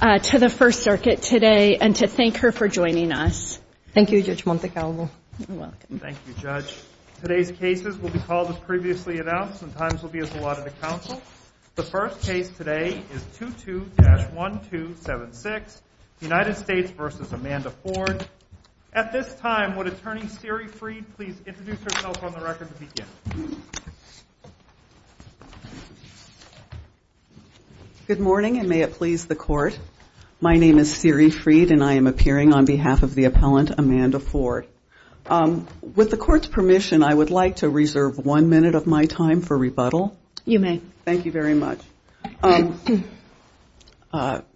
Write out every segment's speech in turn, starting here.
to the First Circuit today and to thank her for joining us. Thank you, Judge Montecalvo. Thank you, Judge. Today's cases will be called as previously announced and times will be as allotted to counsel. The first case today is 22-1276, United States v. Amanda Ford. At this time, would Attorney Siri Freed please introduce herself on the record to begin? Good morning, and may it please the Court. My name is Siri Freed, and I am appearing on behalf of the appellant, Amanda Ford. With the Court's permission, I would like to reserve one minute of my time for rebuttal. You may. Thank you very much.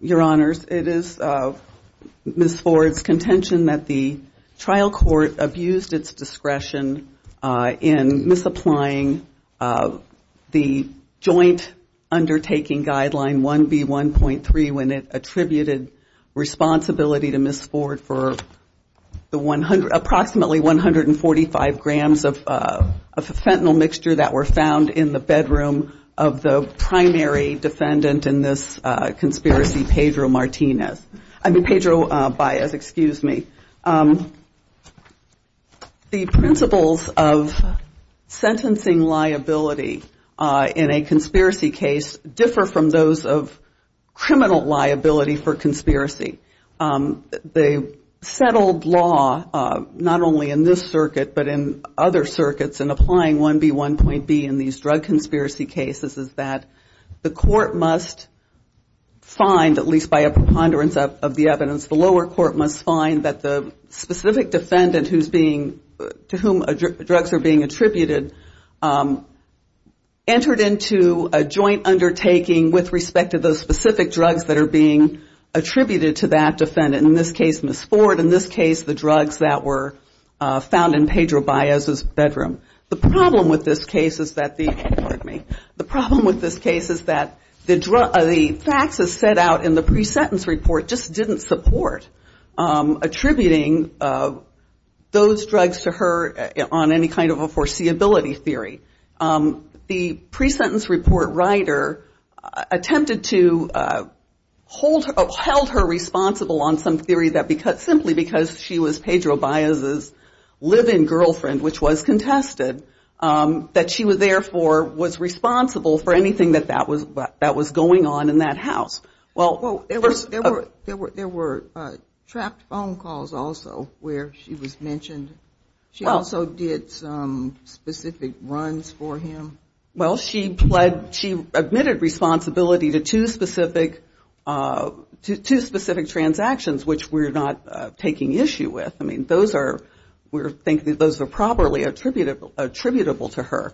Your Honors, it is Ms. Ford's contention that the trial court abused its discretion in misapplying the Joint Undertaking Guideline 1B1.3 when it attributed responsibility to Ms. Ford for approximately 145 grams of fentanyl mixture that were found in the bedroom of the primary defendant in this conspiracy, Pedro Martinez. I mean, Pedro Baez, excuse me. The principles of sentencing liability in a conspiracy case differ from those of criminal liability for conspiracy. The settled law, not only in this circuit, but in other circuits, in applying 1B1.B in these drug conspiracy cases is that the court must find, at least by a preponderance of the evidence, the lower court must find that the specific defendant to whom drugs are being attributed entered into a joint undertaking with respect to those specific drugs that are being attributed to that defendant. In this case, Ms. Ford. In this case, the drugs that were found in Pedro Baez's bedroom. The problem with this case is that the facts as set out in the pre-sentence report just didn't support attributing those drugs to her on any kind of a foreseeability theory. The pre-sentence report writer attempted to hold her responsible on some theory that simply because she was Pedro Baez's live-in girlfriend, which was contested, that she therefore was responsible for anything that was going on in that house. There were trapped phone calls also where she was mentioned. She also did some specific runs for him. Well, she admitted responsibility to two specific transactions, which we're not taking issue with. I mean, we think that those are properly attributable to her.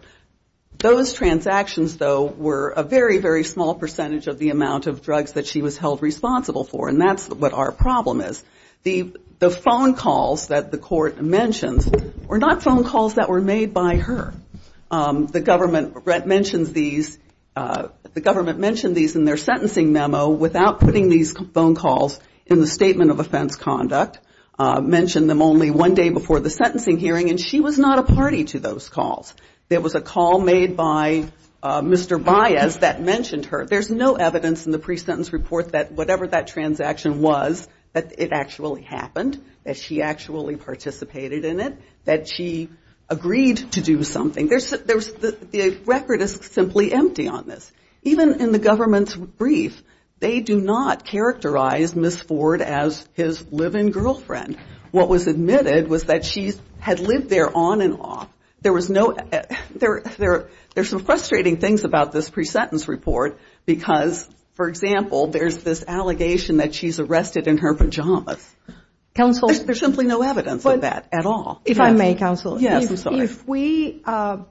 Those transactions, though, were a very, very small percentage of the amount of drugs that she was held responsible for, and that's what our problem is. The phone calls that the court mentions were not phone calls that were made by her. The government mentions these in their sentencing memo without putting these phone calls in the statement of offense conduct. Mentioned them only one day before the sentencing hearing, and she was not a party to those calls. There was a call made by Mr. Baez that mentioned her. There's no evidence in the pre-sentence report that whatever that transaction was, that it actually happened, that she actually participated in it, that she agreed to do something. The record is simply empty on this. Even in the government's brief, they do not characterize Ms. Ford as his live-in girlfriend. What was admitted was that she had lived there on and off. There's some frustrating things about this pre-sentence report because, for example, there's this allegation that she's arrested in her pajamas. There's simply no evidence of that at all. If I may, counsel. Yes, I'm sorry. If we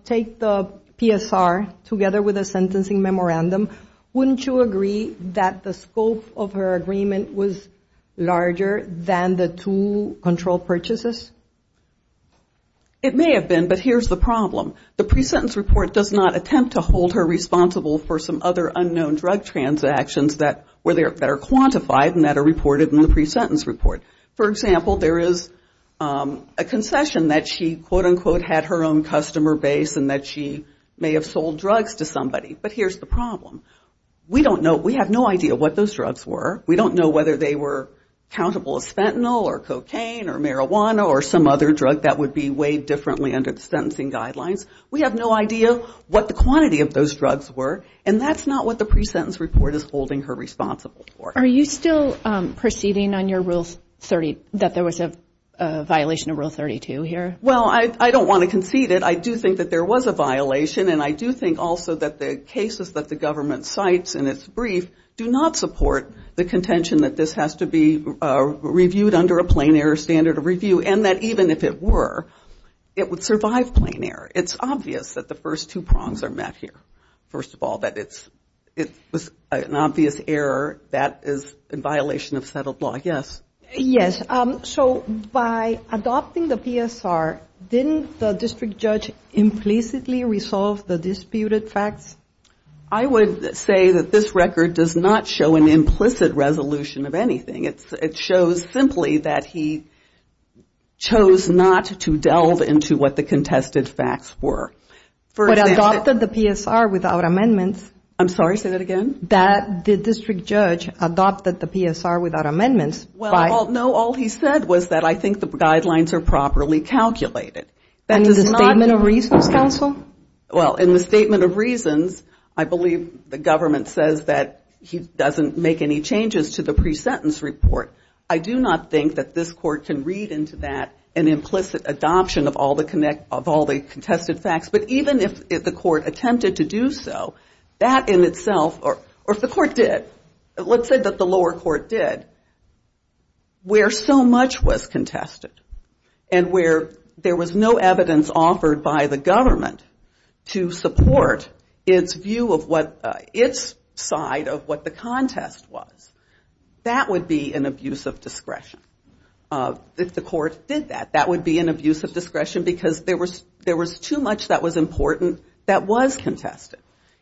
take the PSR together with the sentencing memorandum, wouldn't you agree that the scope of her agreement was larger than the two controlled purchases? It may have been, but here's the problem. The pre-sentence report does not attempt to hold her responsible for some other unknown drug transactions that are quantified and that are reported in the pre-sentence report. For example, there is a concession that she, quote, unquote, had her own customer base and that she may have sold drugs to somebody. But here's the problem. We don't know. We have no idea what those drugs were. We don't know whether they were countable as fentanyl or cocaine or marijuana or some other drug that would be weighed differently under the sentencing guidelines. We have no idea what the quantity of those drugs were, and that's not what the pre-sentence report is holding her responsible for. Are you still proceeding on your Rule 30, that there was a violation of Rule 32 here? Well, I don't want to concede it. I do think that there was a violation, and I do think also that the cases that the government cites in its brief do not support the contention that this has to be reviewed under a plain error standard of review and that even if it were, it would survive plain error. It's obvious that the first two prongs are met here. First of all, that it was an obvious error that is in violation of settled law, yes. Yes. So by adopting the PSR, didn't the district judge implicitly resolve the disputed facts? I would say that this record does not show an implicit resolution of anything. It shows simply that he chose not to delve into what the contested facts were. But adopted the PSR without amendments. I'm sorry, say that again. That the district judge adopted the PSR without amendments. Well, no, all he said was that I think the guidelines are properly calculated. And in the Statement of Reasons, counsel? Well, in the Statement of Reasons, I believe the government says that he doesn't make any changes to the pre-sentence report. I do not think that this court can read into that an implicit adoption of all the contested facts. But even if the court attempted to do so, that in itself, or if the court did, let's say that the lower court did, where so much was contested and where there was no evidence offered by the government to support its view of what its side of what the contest was, that would be an abuse of discretion. If the court did that, that would be an abuse of discretion because there was too much that was important that was contested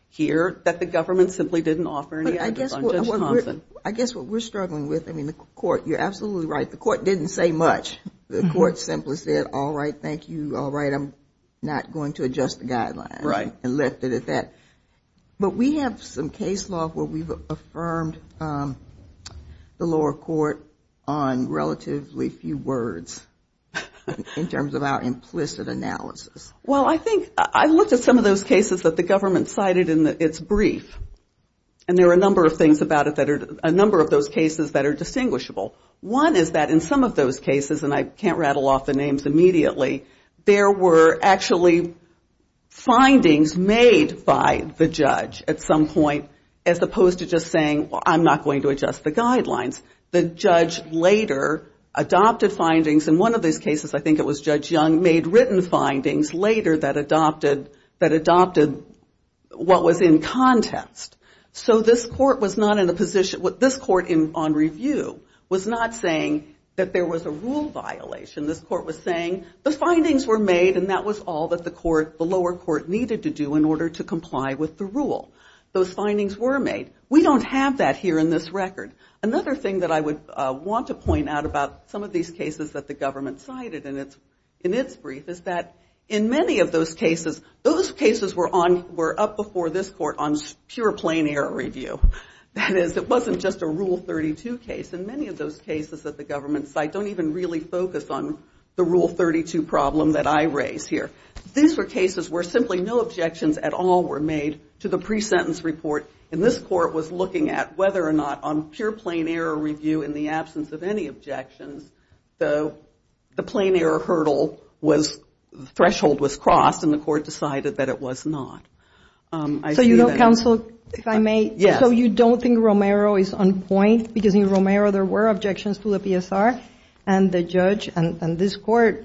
here that the government simply didn't offer any evidence on Judge Thompson. I guess what we're struggling with, I mean, the court, you're absolutely right, the court didn't say much. The court simply said, all right, thank you, all right, I'm not going to adjust the guidelines. Right. And left it at that. But we have some case law where we've affirmed the lower court on relatively few words in terms of our implicit analysis. Well, I think, I looked at some of those cases that the government cited in its brief, and there are a number of things about it that are, a number of those cases that are distinguishable. One is that in some of those cases, and I can't rattle off the names immediately, there were actually findings made by the judge at some point as opposed to just saying, well, I'm not going to adjust the guidelines. The judge later adopted findings, and one of those cases, I think it was Judge Young, made written findings later that adopted what was in contest. So this court was not in a position, this court on review, was not saying that there was a rule violation. This court was saying the findings were made and that was all that the court, the lower court needed to do in order to comply with the rule. Those findings were made. We don't have that here in this record. Another thing that I would want to point out about some of these cases that the government cited in its brief is that in many of those cases, those cases were up before this court on pure plain error review. That is, it wasn't just a Rule 32 case. In many of those cases that the government cited, I don't even really focus on the Rule 32 problem that I raise here. These were cases where simply no objections at all were made to the pre-sentence report, and this court was looking at whether or not on pure plain error review in the absence of any objections, the plain error hurdle threshold was crossed and the court decided that it was not. So you don't think Romero is on point because in Romero there were objections to the PSR, and the judge and this court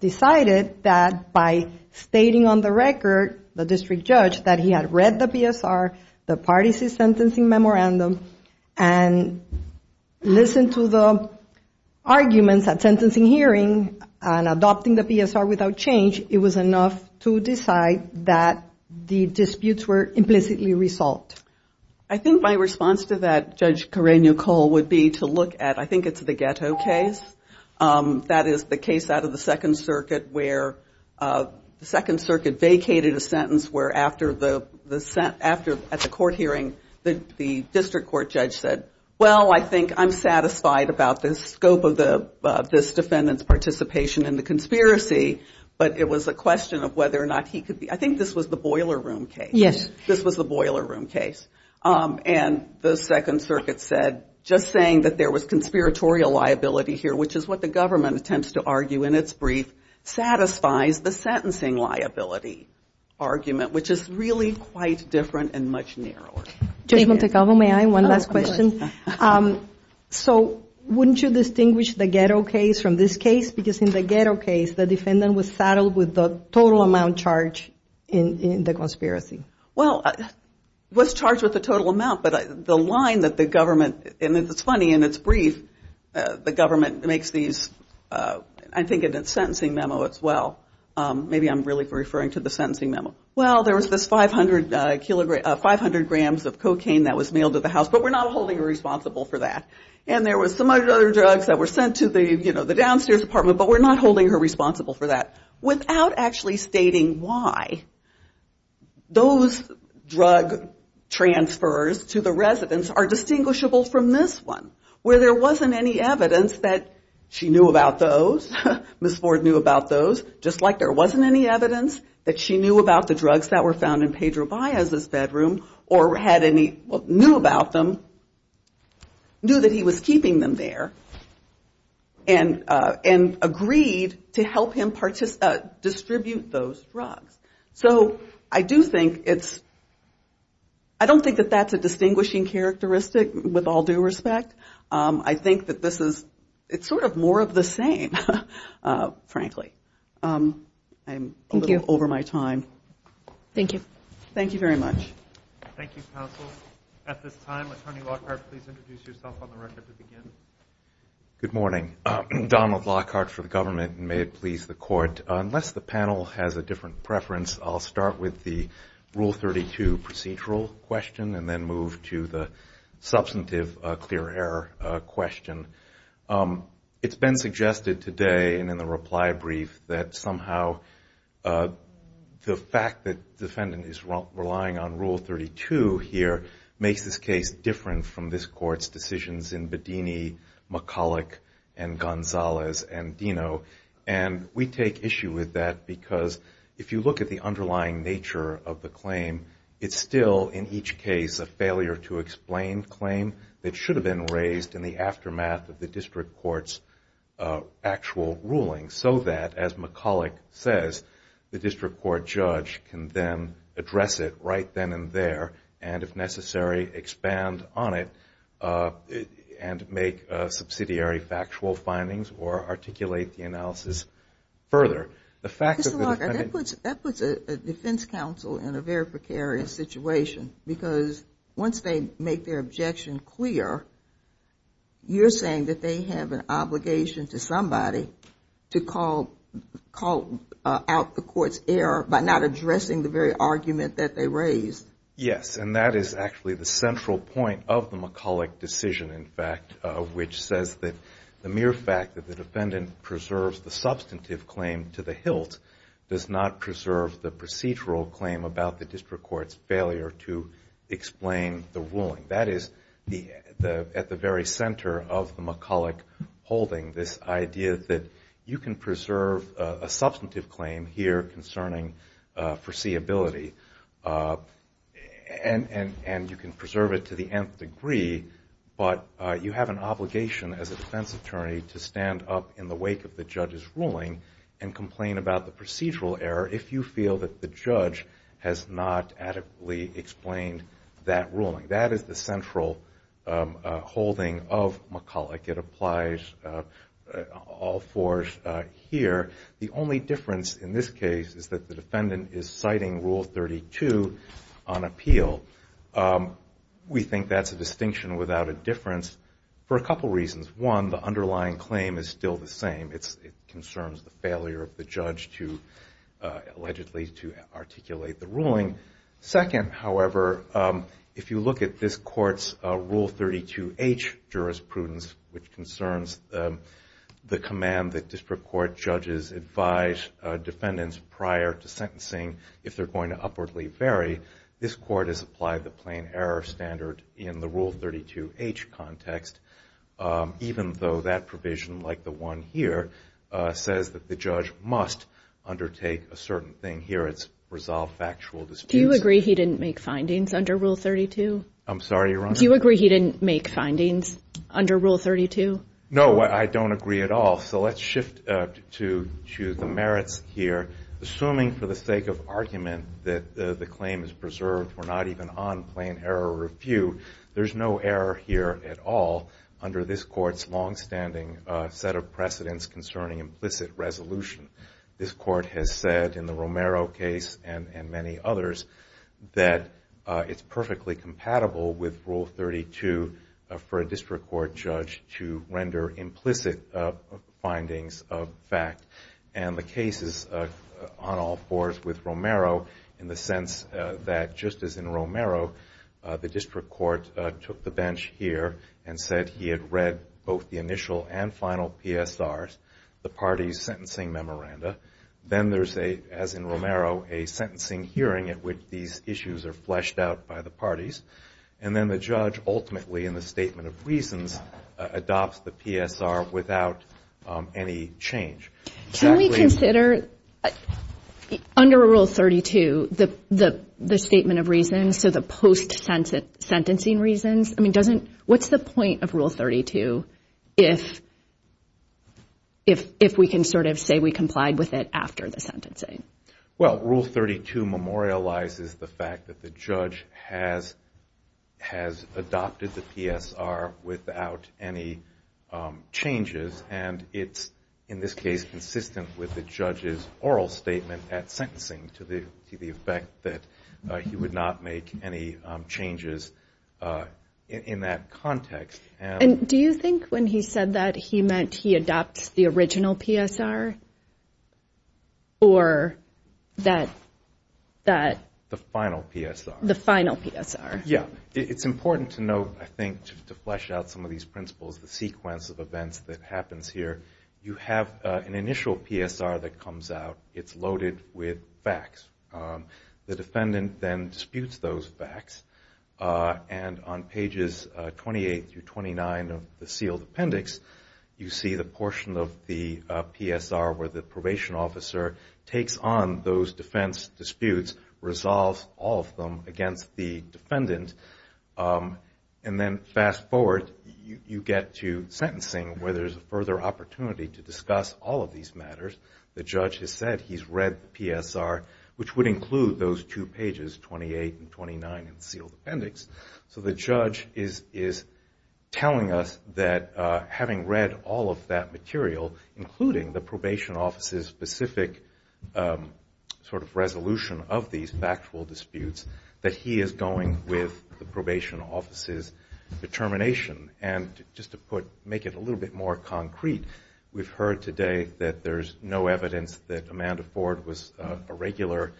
decided that by stating on the record, the district judge, that he had read the PSR, the parties' sentencing memorandum, and listened to the arguments at sentencing hearing and adopting the PSR without change, it was enough to decide that the disputes were implicitly resolved. I think my response to that, Judge Karenio-Cole, would be to look at, I think it's the ghetto case. That is the case out of the Second Circuit where the Second Circuit vacated a sentence where at the court hearing the district court judge said, well, I think I'm satisfied about the scope of this defendant's participation in the conspiracy, but it was a question of whether or not he could be. I think this was the Boiler Room case. Yes. This was the Boiler Room case. And the Second Circuit said, just saying that there was conspiratorial liability here, which is what the government attempts to argue in its brief, satisfies the sentencing liability argument, which is really quite different and much narrower. Judge Montecalvo, may I have one last question? Oh, go ahead. So wouldn't you distinguish the ghetto case from this case? Because in the ghetto case the defendant was saddled with the total amount charged in the conspiracy. Well, was charged with the total amount, but the line that the government, and it's funny, in its brief the government makes these, I think in its sentencing memo as well. Maybe I'm really referring to the sentencing memo. Well, there was this 500 grams of cocaine that was mailed to the house, but we're not holding her responsible for that. And there was some other drugs that were sent to the downstairs apartment, but we're not holding her responsible for that. Without actually stating why, those drug transfers to the residence are distinguishable from this one, where there wasn't any evidence that she knew about those, Ms. Ford knew about those, just like there wasn't any evidence that she knew about the drugs that were found in Pedro Baez's bedroom, or had any, knew about them, knew that he was keeping them there, and agreed to help him distribute those drugs. So I do think it's, I don't think that that's a distinguishing characteristic with all due respect. I think that this is, it's sort of more of the same, frankly. I'm a little over my time. Thank you. Thank you very much. Thank you, counsel. At this time, Attorney Lockhart, please introduce yourself on the record to begin. Good morning. Donald Lockhart for the government, and may it please the court. Unless the panel has a different preference, I'll start with the Rule 32 procedural question and then move to the substantive clear error question. It's been suggested today, and in the reply brief, that somehow the fact that the defendant is relying on Rule 32 here makes this case different from this Court's decisions in Bedini, McCulloch, and Gonzalez, and Dino. And we take issue with that because if you look at the underlying nature of the claim, it's still, in each case, a failure to explain claim that should have been raised in the aftermath of the district court's actual ruling so that, as McCulloch says, the district court judge can then address it right then and there and, if necessary, expand on it and make subsidiary factual findings or articulate the analysis further. Mr. Lockhart, that puts a defense counsel in a very precarious situation because once they make their objection clear, you're saying that they have an obligation to somebody to call out the court's error by not addressing the very argument that they raised. Yes, and that is actually the central point of the McCulloch decision, in fact, which says that the mere fact that the defendant preserves the substantive claim to the hilt does not preserve the procedural claim about the district court's failure to explain the ruling. That is, at the very center of the McCulloch holding, this idea that you can preserve a substantive claim here concerning foreseeability and you can preserve it to the nth degree, but you have an obligation as a defense attorney to stand up in the wake of the judge's ruling and complain about the procedural error if you feel that the judge has not adequately explained that ruling. That is the central holding of McCulloch. It applies all force here. The only difference in this case is that the defendant is citing Rule 32 on appeal. We think that's a distinction without a difference for a couple reasons. One, the underlying claim is still the same. It concerns the failure of the judge to allegedly articulate the ruling. Second, however, if you look at this court's Rule 32H jurisprudence, which concerns the command that district court judges advise defendants prior to sentencing if they're going to upwardly vary, this court has applied the plain error standard in the Rule 32H context, even though that provision, like the one here, says that the judge must undertake a certain thing. Here it's resolve factual disputes. Do you agree he didn't make findings under Rule 32? I'm sorry, Your Honor? Do you agree he didn't make findings under Rule 32? No, I don't agree at all. So let's shift to the merits here. Assuming for the sake of argument that the claim is preserved, we're not even on plain error review, there's no error here at all under this court's longstanding set of precedents concerning implicit resolution. This court has said in the Romero case and many others that it's perfectly compatible with Rule 32 for a district court judge to render implicit findings of fact. And the case is on all fours with Romero in the sense that, just as in Romero, the district court took the bench here and said he had read both the initial and final PSRs, the parties' sentencing memoranda. Then there's a, as in Romero, a sentencing hearing at which these issues are fleshed out by the parties. And then the judge ultimately, in the statement of reasons, adopts the PSR without any change. Can we consider under Rule 32 the statement of reasons, so the post-sentencing reasons? I mean, what's the point of Rule 32 if we can sort of say we complied with it after the sentencing? Well, Rule 32 memorializes the fact that the judge has adopted the PSR without any changes, and it's in this case consistent with the judge's oral statement at sentencing to the effect that he would not make any changes in that context. And do you think when he said that he meant he adopts the original PSR or that- The final PSR. The final PSR. Yeah. It's important to note, I think, to flesh out some of these principles, the sequence of events that happens here. You have an initial PSR that comes out. It's loaded with facts. The defendant then disputes those facts, and on pages 28 through 29 of the sealed appendix, you see the portion of the PSR where the probation officer takes on those defense disputes, resolves all of them against the defendant, and then fast forward, you get to sentencing where there's a further opportunity to discuss all of these matters. The judge has said he's read the PSR, which would include those two pages, 28 and 29, in the sealed appendix. So the judge is telling us that having read all of that material, including the probation officer's specific sort of resolution of these factual disputes, that he is going with the probation officer's determination. And just to make it a little bit more concrete, we've heard today that there's no evidence that Amanda Ford was a regular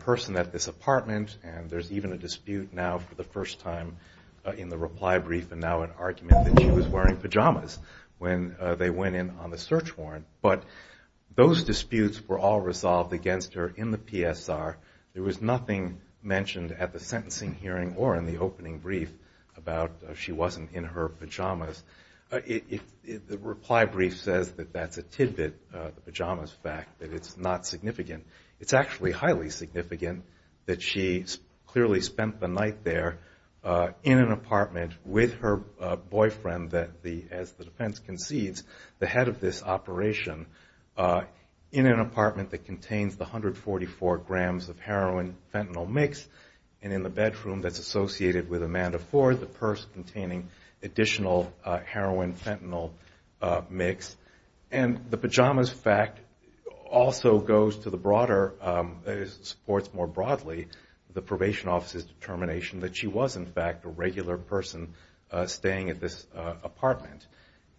person at this apartment, and there's even a dispute now for the first time in the reply brief, and now an argument that she was wearing pajamas when they went in on the search warrant. But those disputes were all resolved against her in the PSR. There was nothing mentioned at the sentencing hearing or in the opening brief about she wasn't in her pajamas. The reply brief says that that's a tidbit, the pajamas fact, that it's not significant. It's actually highly significant that she clearly spent the night there in an apartment with her boyfriend, as the defense concedes, the head of this operation, in an apartment that contains the 144 grams of heroin-fentanyl mix, and in the bedroom that's associated with Amanda Ford, the purse containing additional heroin-fentanyl mix. And the pajamas fact also goes to the broader, it supports more broadly the probation officer's determination that she was, in fact, a regular person staying at this apartment.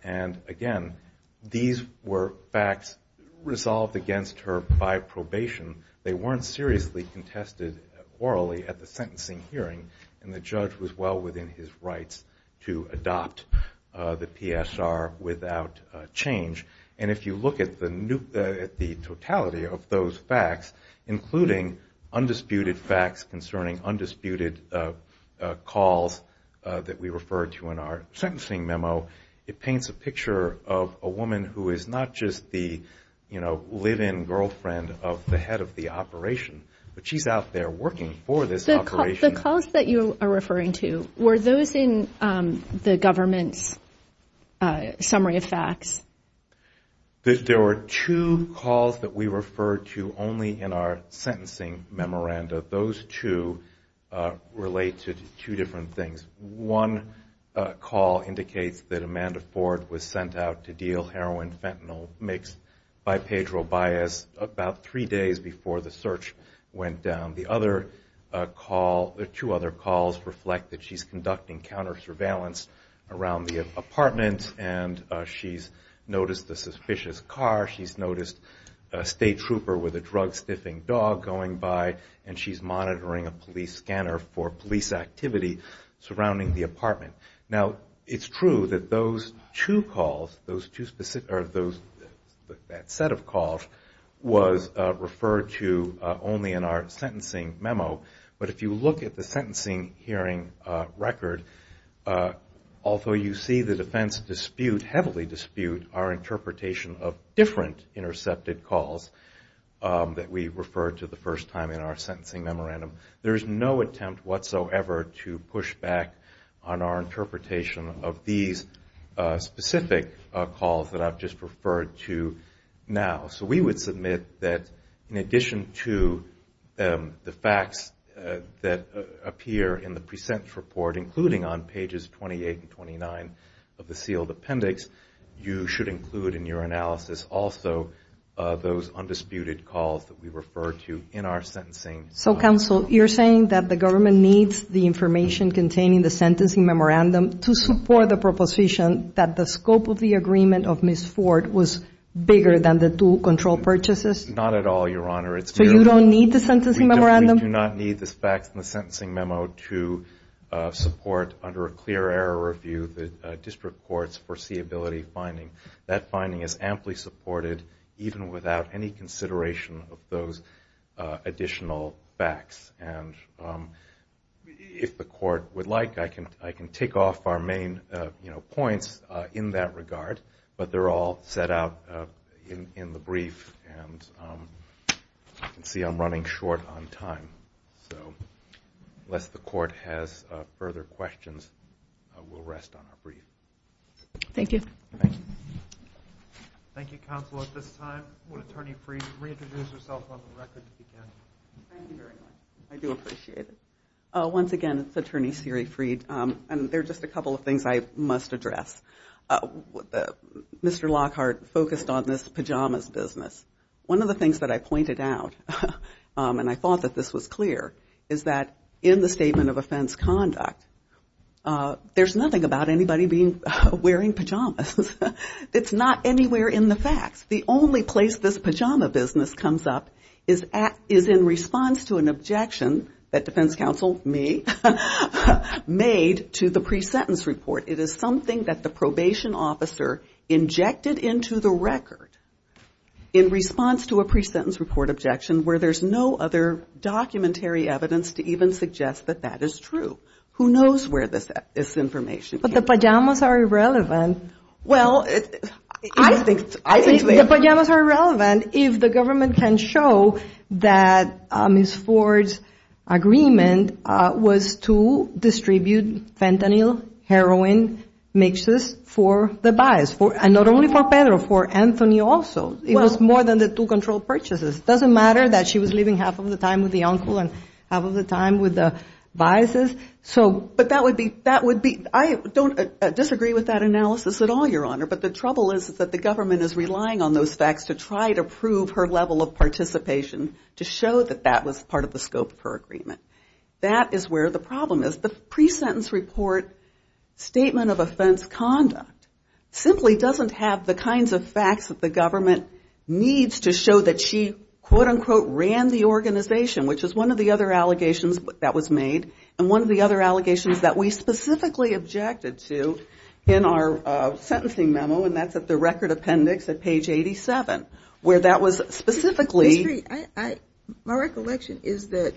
And, again, these were facts resolved against her by probation. They weren't seriously contested orally at the sentencing hearing, and the judge was well within his rights to adopt the PSR without change. And if you look at the totality of those facts, including undisputed facts concerning undisputed calls that we referred to in our sentencing memo, it paints a picture of a woman who is not just the live-in girlfriend of the head of the operation, but she's out there working for this operation. The calls that you are referring to, were those in the government's summary of facts? There were two calls that we referred to only in our sentencing memoranda. Those two relate to two different things. One call indicates that Amanda Ford was sent out to deal heroin-fentanyl mix by Pedro Baez about three days before the search went down. The other call, the two other calls, reflect that she's conducting counter-surveillance around the apartment, and she's noticed a suspicious car. She's noticed a state trooper with a drug-stiffing dog going by, and she's monitoring a police scanner for police activity surrounding the apartment. Now, it's true that those two calls, that set of calls, was referred to only in our sentencing memo. But if you look at the sentencing hearing record, although you see the defense dispute, heavily dispute, our interpretation of different intercepted calls that we referred to the first time in our sentencing memorandum, there is no attempt whatsoever to push back on our interpretation of these specific calls that I've just referred to now. So we would submit that in addition to the facts that appear in the present report, including on pages 28 and 29 of the sealed appendix, you should include in your analysis also those undisputed calls that we referred to in our sentencing. So, counsel, you're saying that the government needs the information containing the sentencing memorandum to support the proposition that the scope of the agreement of Ms. Ford was bigger than the two control purchases? Not at all, Your Honor. So you don't need the sentencing memorandum? We do not need the facts in the sentencing memo to support, under a clear error review, the district court's foreseeability finding. That finding is amply supported, even without any consideration of those additional facts. And if the court would like, I can take off our main points in that regard, but they're all set out in the brief, and you can see I'm running short on time. So unless the court has further questions, we'll rest on our brief. Thank you. Thank you. Thank you, counsel. At this time, would Attorney Freed reintroduce herself on the record to begin? Thank you very much. I do appreciate it. Once again, it's Attorney Siri Freed, and there are just a couple of things I must address. Mr. Lockhart focused on this pajamas business. One of the things that I pointed out, and I thought that this was clear, is that in the statement of offense conduct, there's nothing about anybody wearing pajamas. It's not anywhere in the facts. The only place this pajama business comes up is in response to an objection that defense counsel, me, made to the pre-sentence report. It is something that the probation officer injected into the record in response to a pre-sentence report objection where there's no other documentary evidence to even suggest that that is true. Who knows where this information came from? But the pajamas are irrelevant. Well, I think they are. The pajamas are irrelevant if the government can show that Ms. Ford's agreement was to distribute fentanyl, heroin mixes for the bias, and not only for Pedro, for Anthony also. It was more than the two controlled purchases. It doesn't matter that she was living half of the time with the uncle and half of the time with the biases. But that would be, I don't disagree with that analysis at all, Your Honor, but the trouble is that the government is relying on those facts to try to prove her level of participation to show that that was part of the scope of her agreement. That is where the problem is. The pre-sentence report statement of offense conduct simply doesn't have the kinds of facts that the government needs to show that she, quote, unquote, ran the organization, which is one of the other allegations that was made and one of the other allegations that we specifically objected to in our sentencing memo, and that's at the record appendix at page 87, where that was specifically. My recollection is that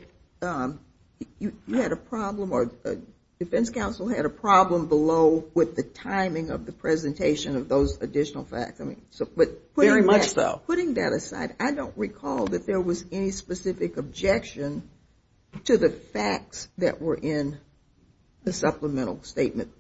you had a problem or the defense counsel had a problem below with the timing of the presentation of those additional facts. Very much so. Putting that aside, I don't recall that there was any specific objection to the facts that were in the supplemental statement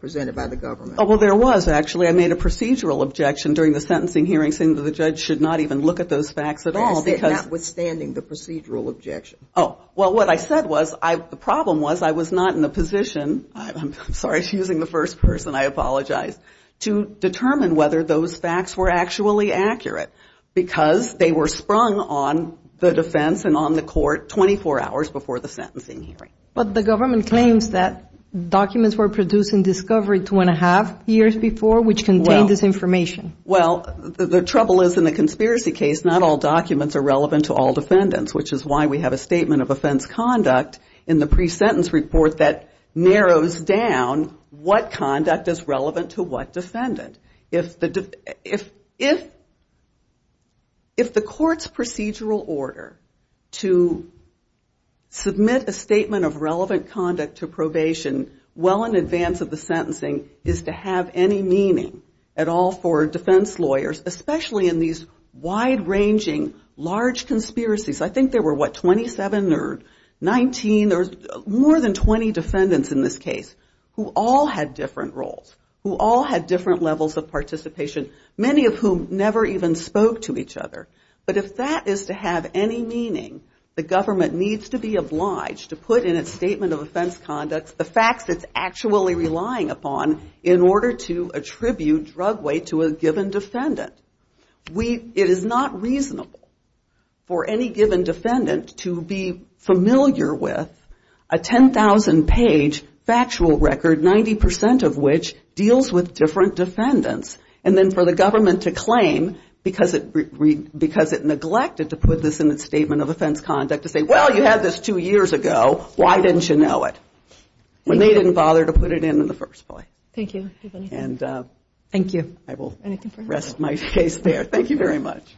presented by the government. Oh, well, there was, actually. I made a procedural objection during the sentencing hearing saying that the judge should not even look at those facts at all. I said notwithstanding the procedural objection. Oh, well, what I said was the problem was I was not in the position, I'm sorry, she's using the first person, I apologize, to determine whether those facts were actually accurate because they were sprung on the defense and on the court 24 hours before the sentencing hearing. But the government claims that documents were produced in discovery two and a half years before, which contained this information. Well, the trouble is in the conspiracy case, not all documents are relevant to all defendants, which is why we have a statement of offense conduct in the pre-sentence report that narrows down what conduct is relevant to what defendant. If the court's procedural order to submit a statement of relevant conduct to probation well in advance of the sentencing is to have any meaning at all for defense lawyers, especially in these wide-ranging, large conspiracies, I think there were, what, 27 or 19 or more than 20 defendants in this case who all had different roles, who all had different levels of participation, many of whom never even spoke to each other. But if that is to have any meaning, the government needs to be obliged to put in its statement of offense conduct the facts it's actually relying upon in order to attribute drug weight to a given defendant. It is not reasonable for any given defendant to be familiar with a 10,000-page factual record, 90% of which deals with different defendants, and then for the government to claim, because it neglected to put this in its statement of offense conduct, to say, well, you had this two years ago, why didn't you know it? When they didn't bother to put it in in the first place. Thank you. Thank you. I will rest my case there. Thank you very much.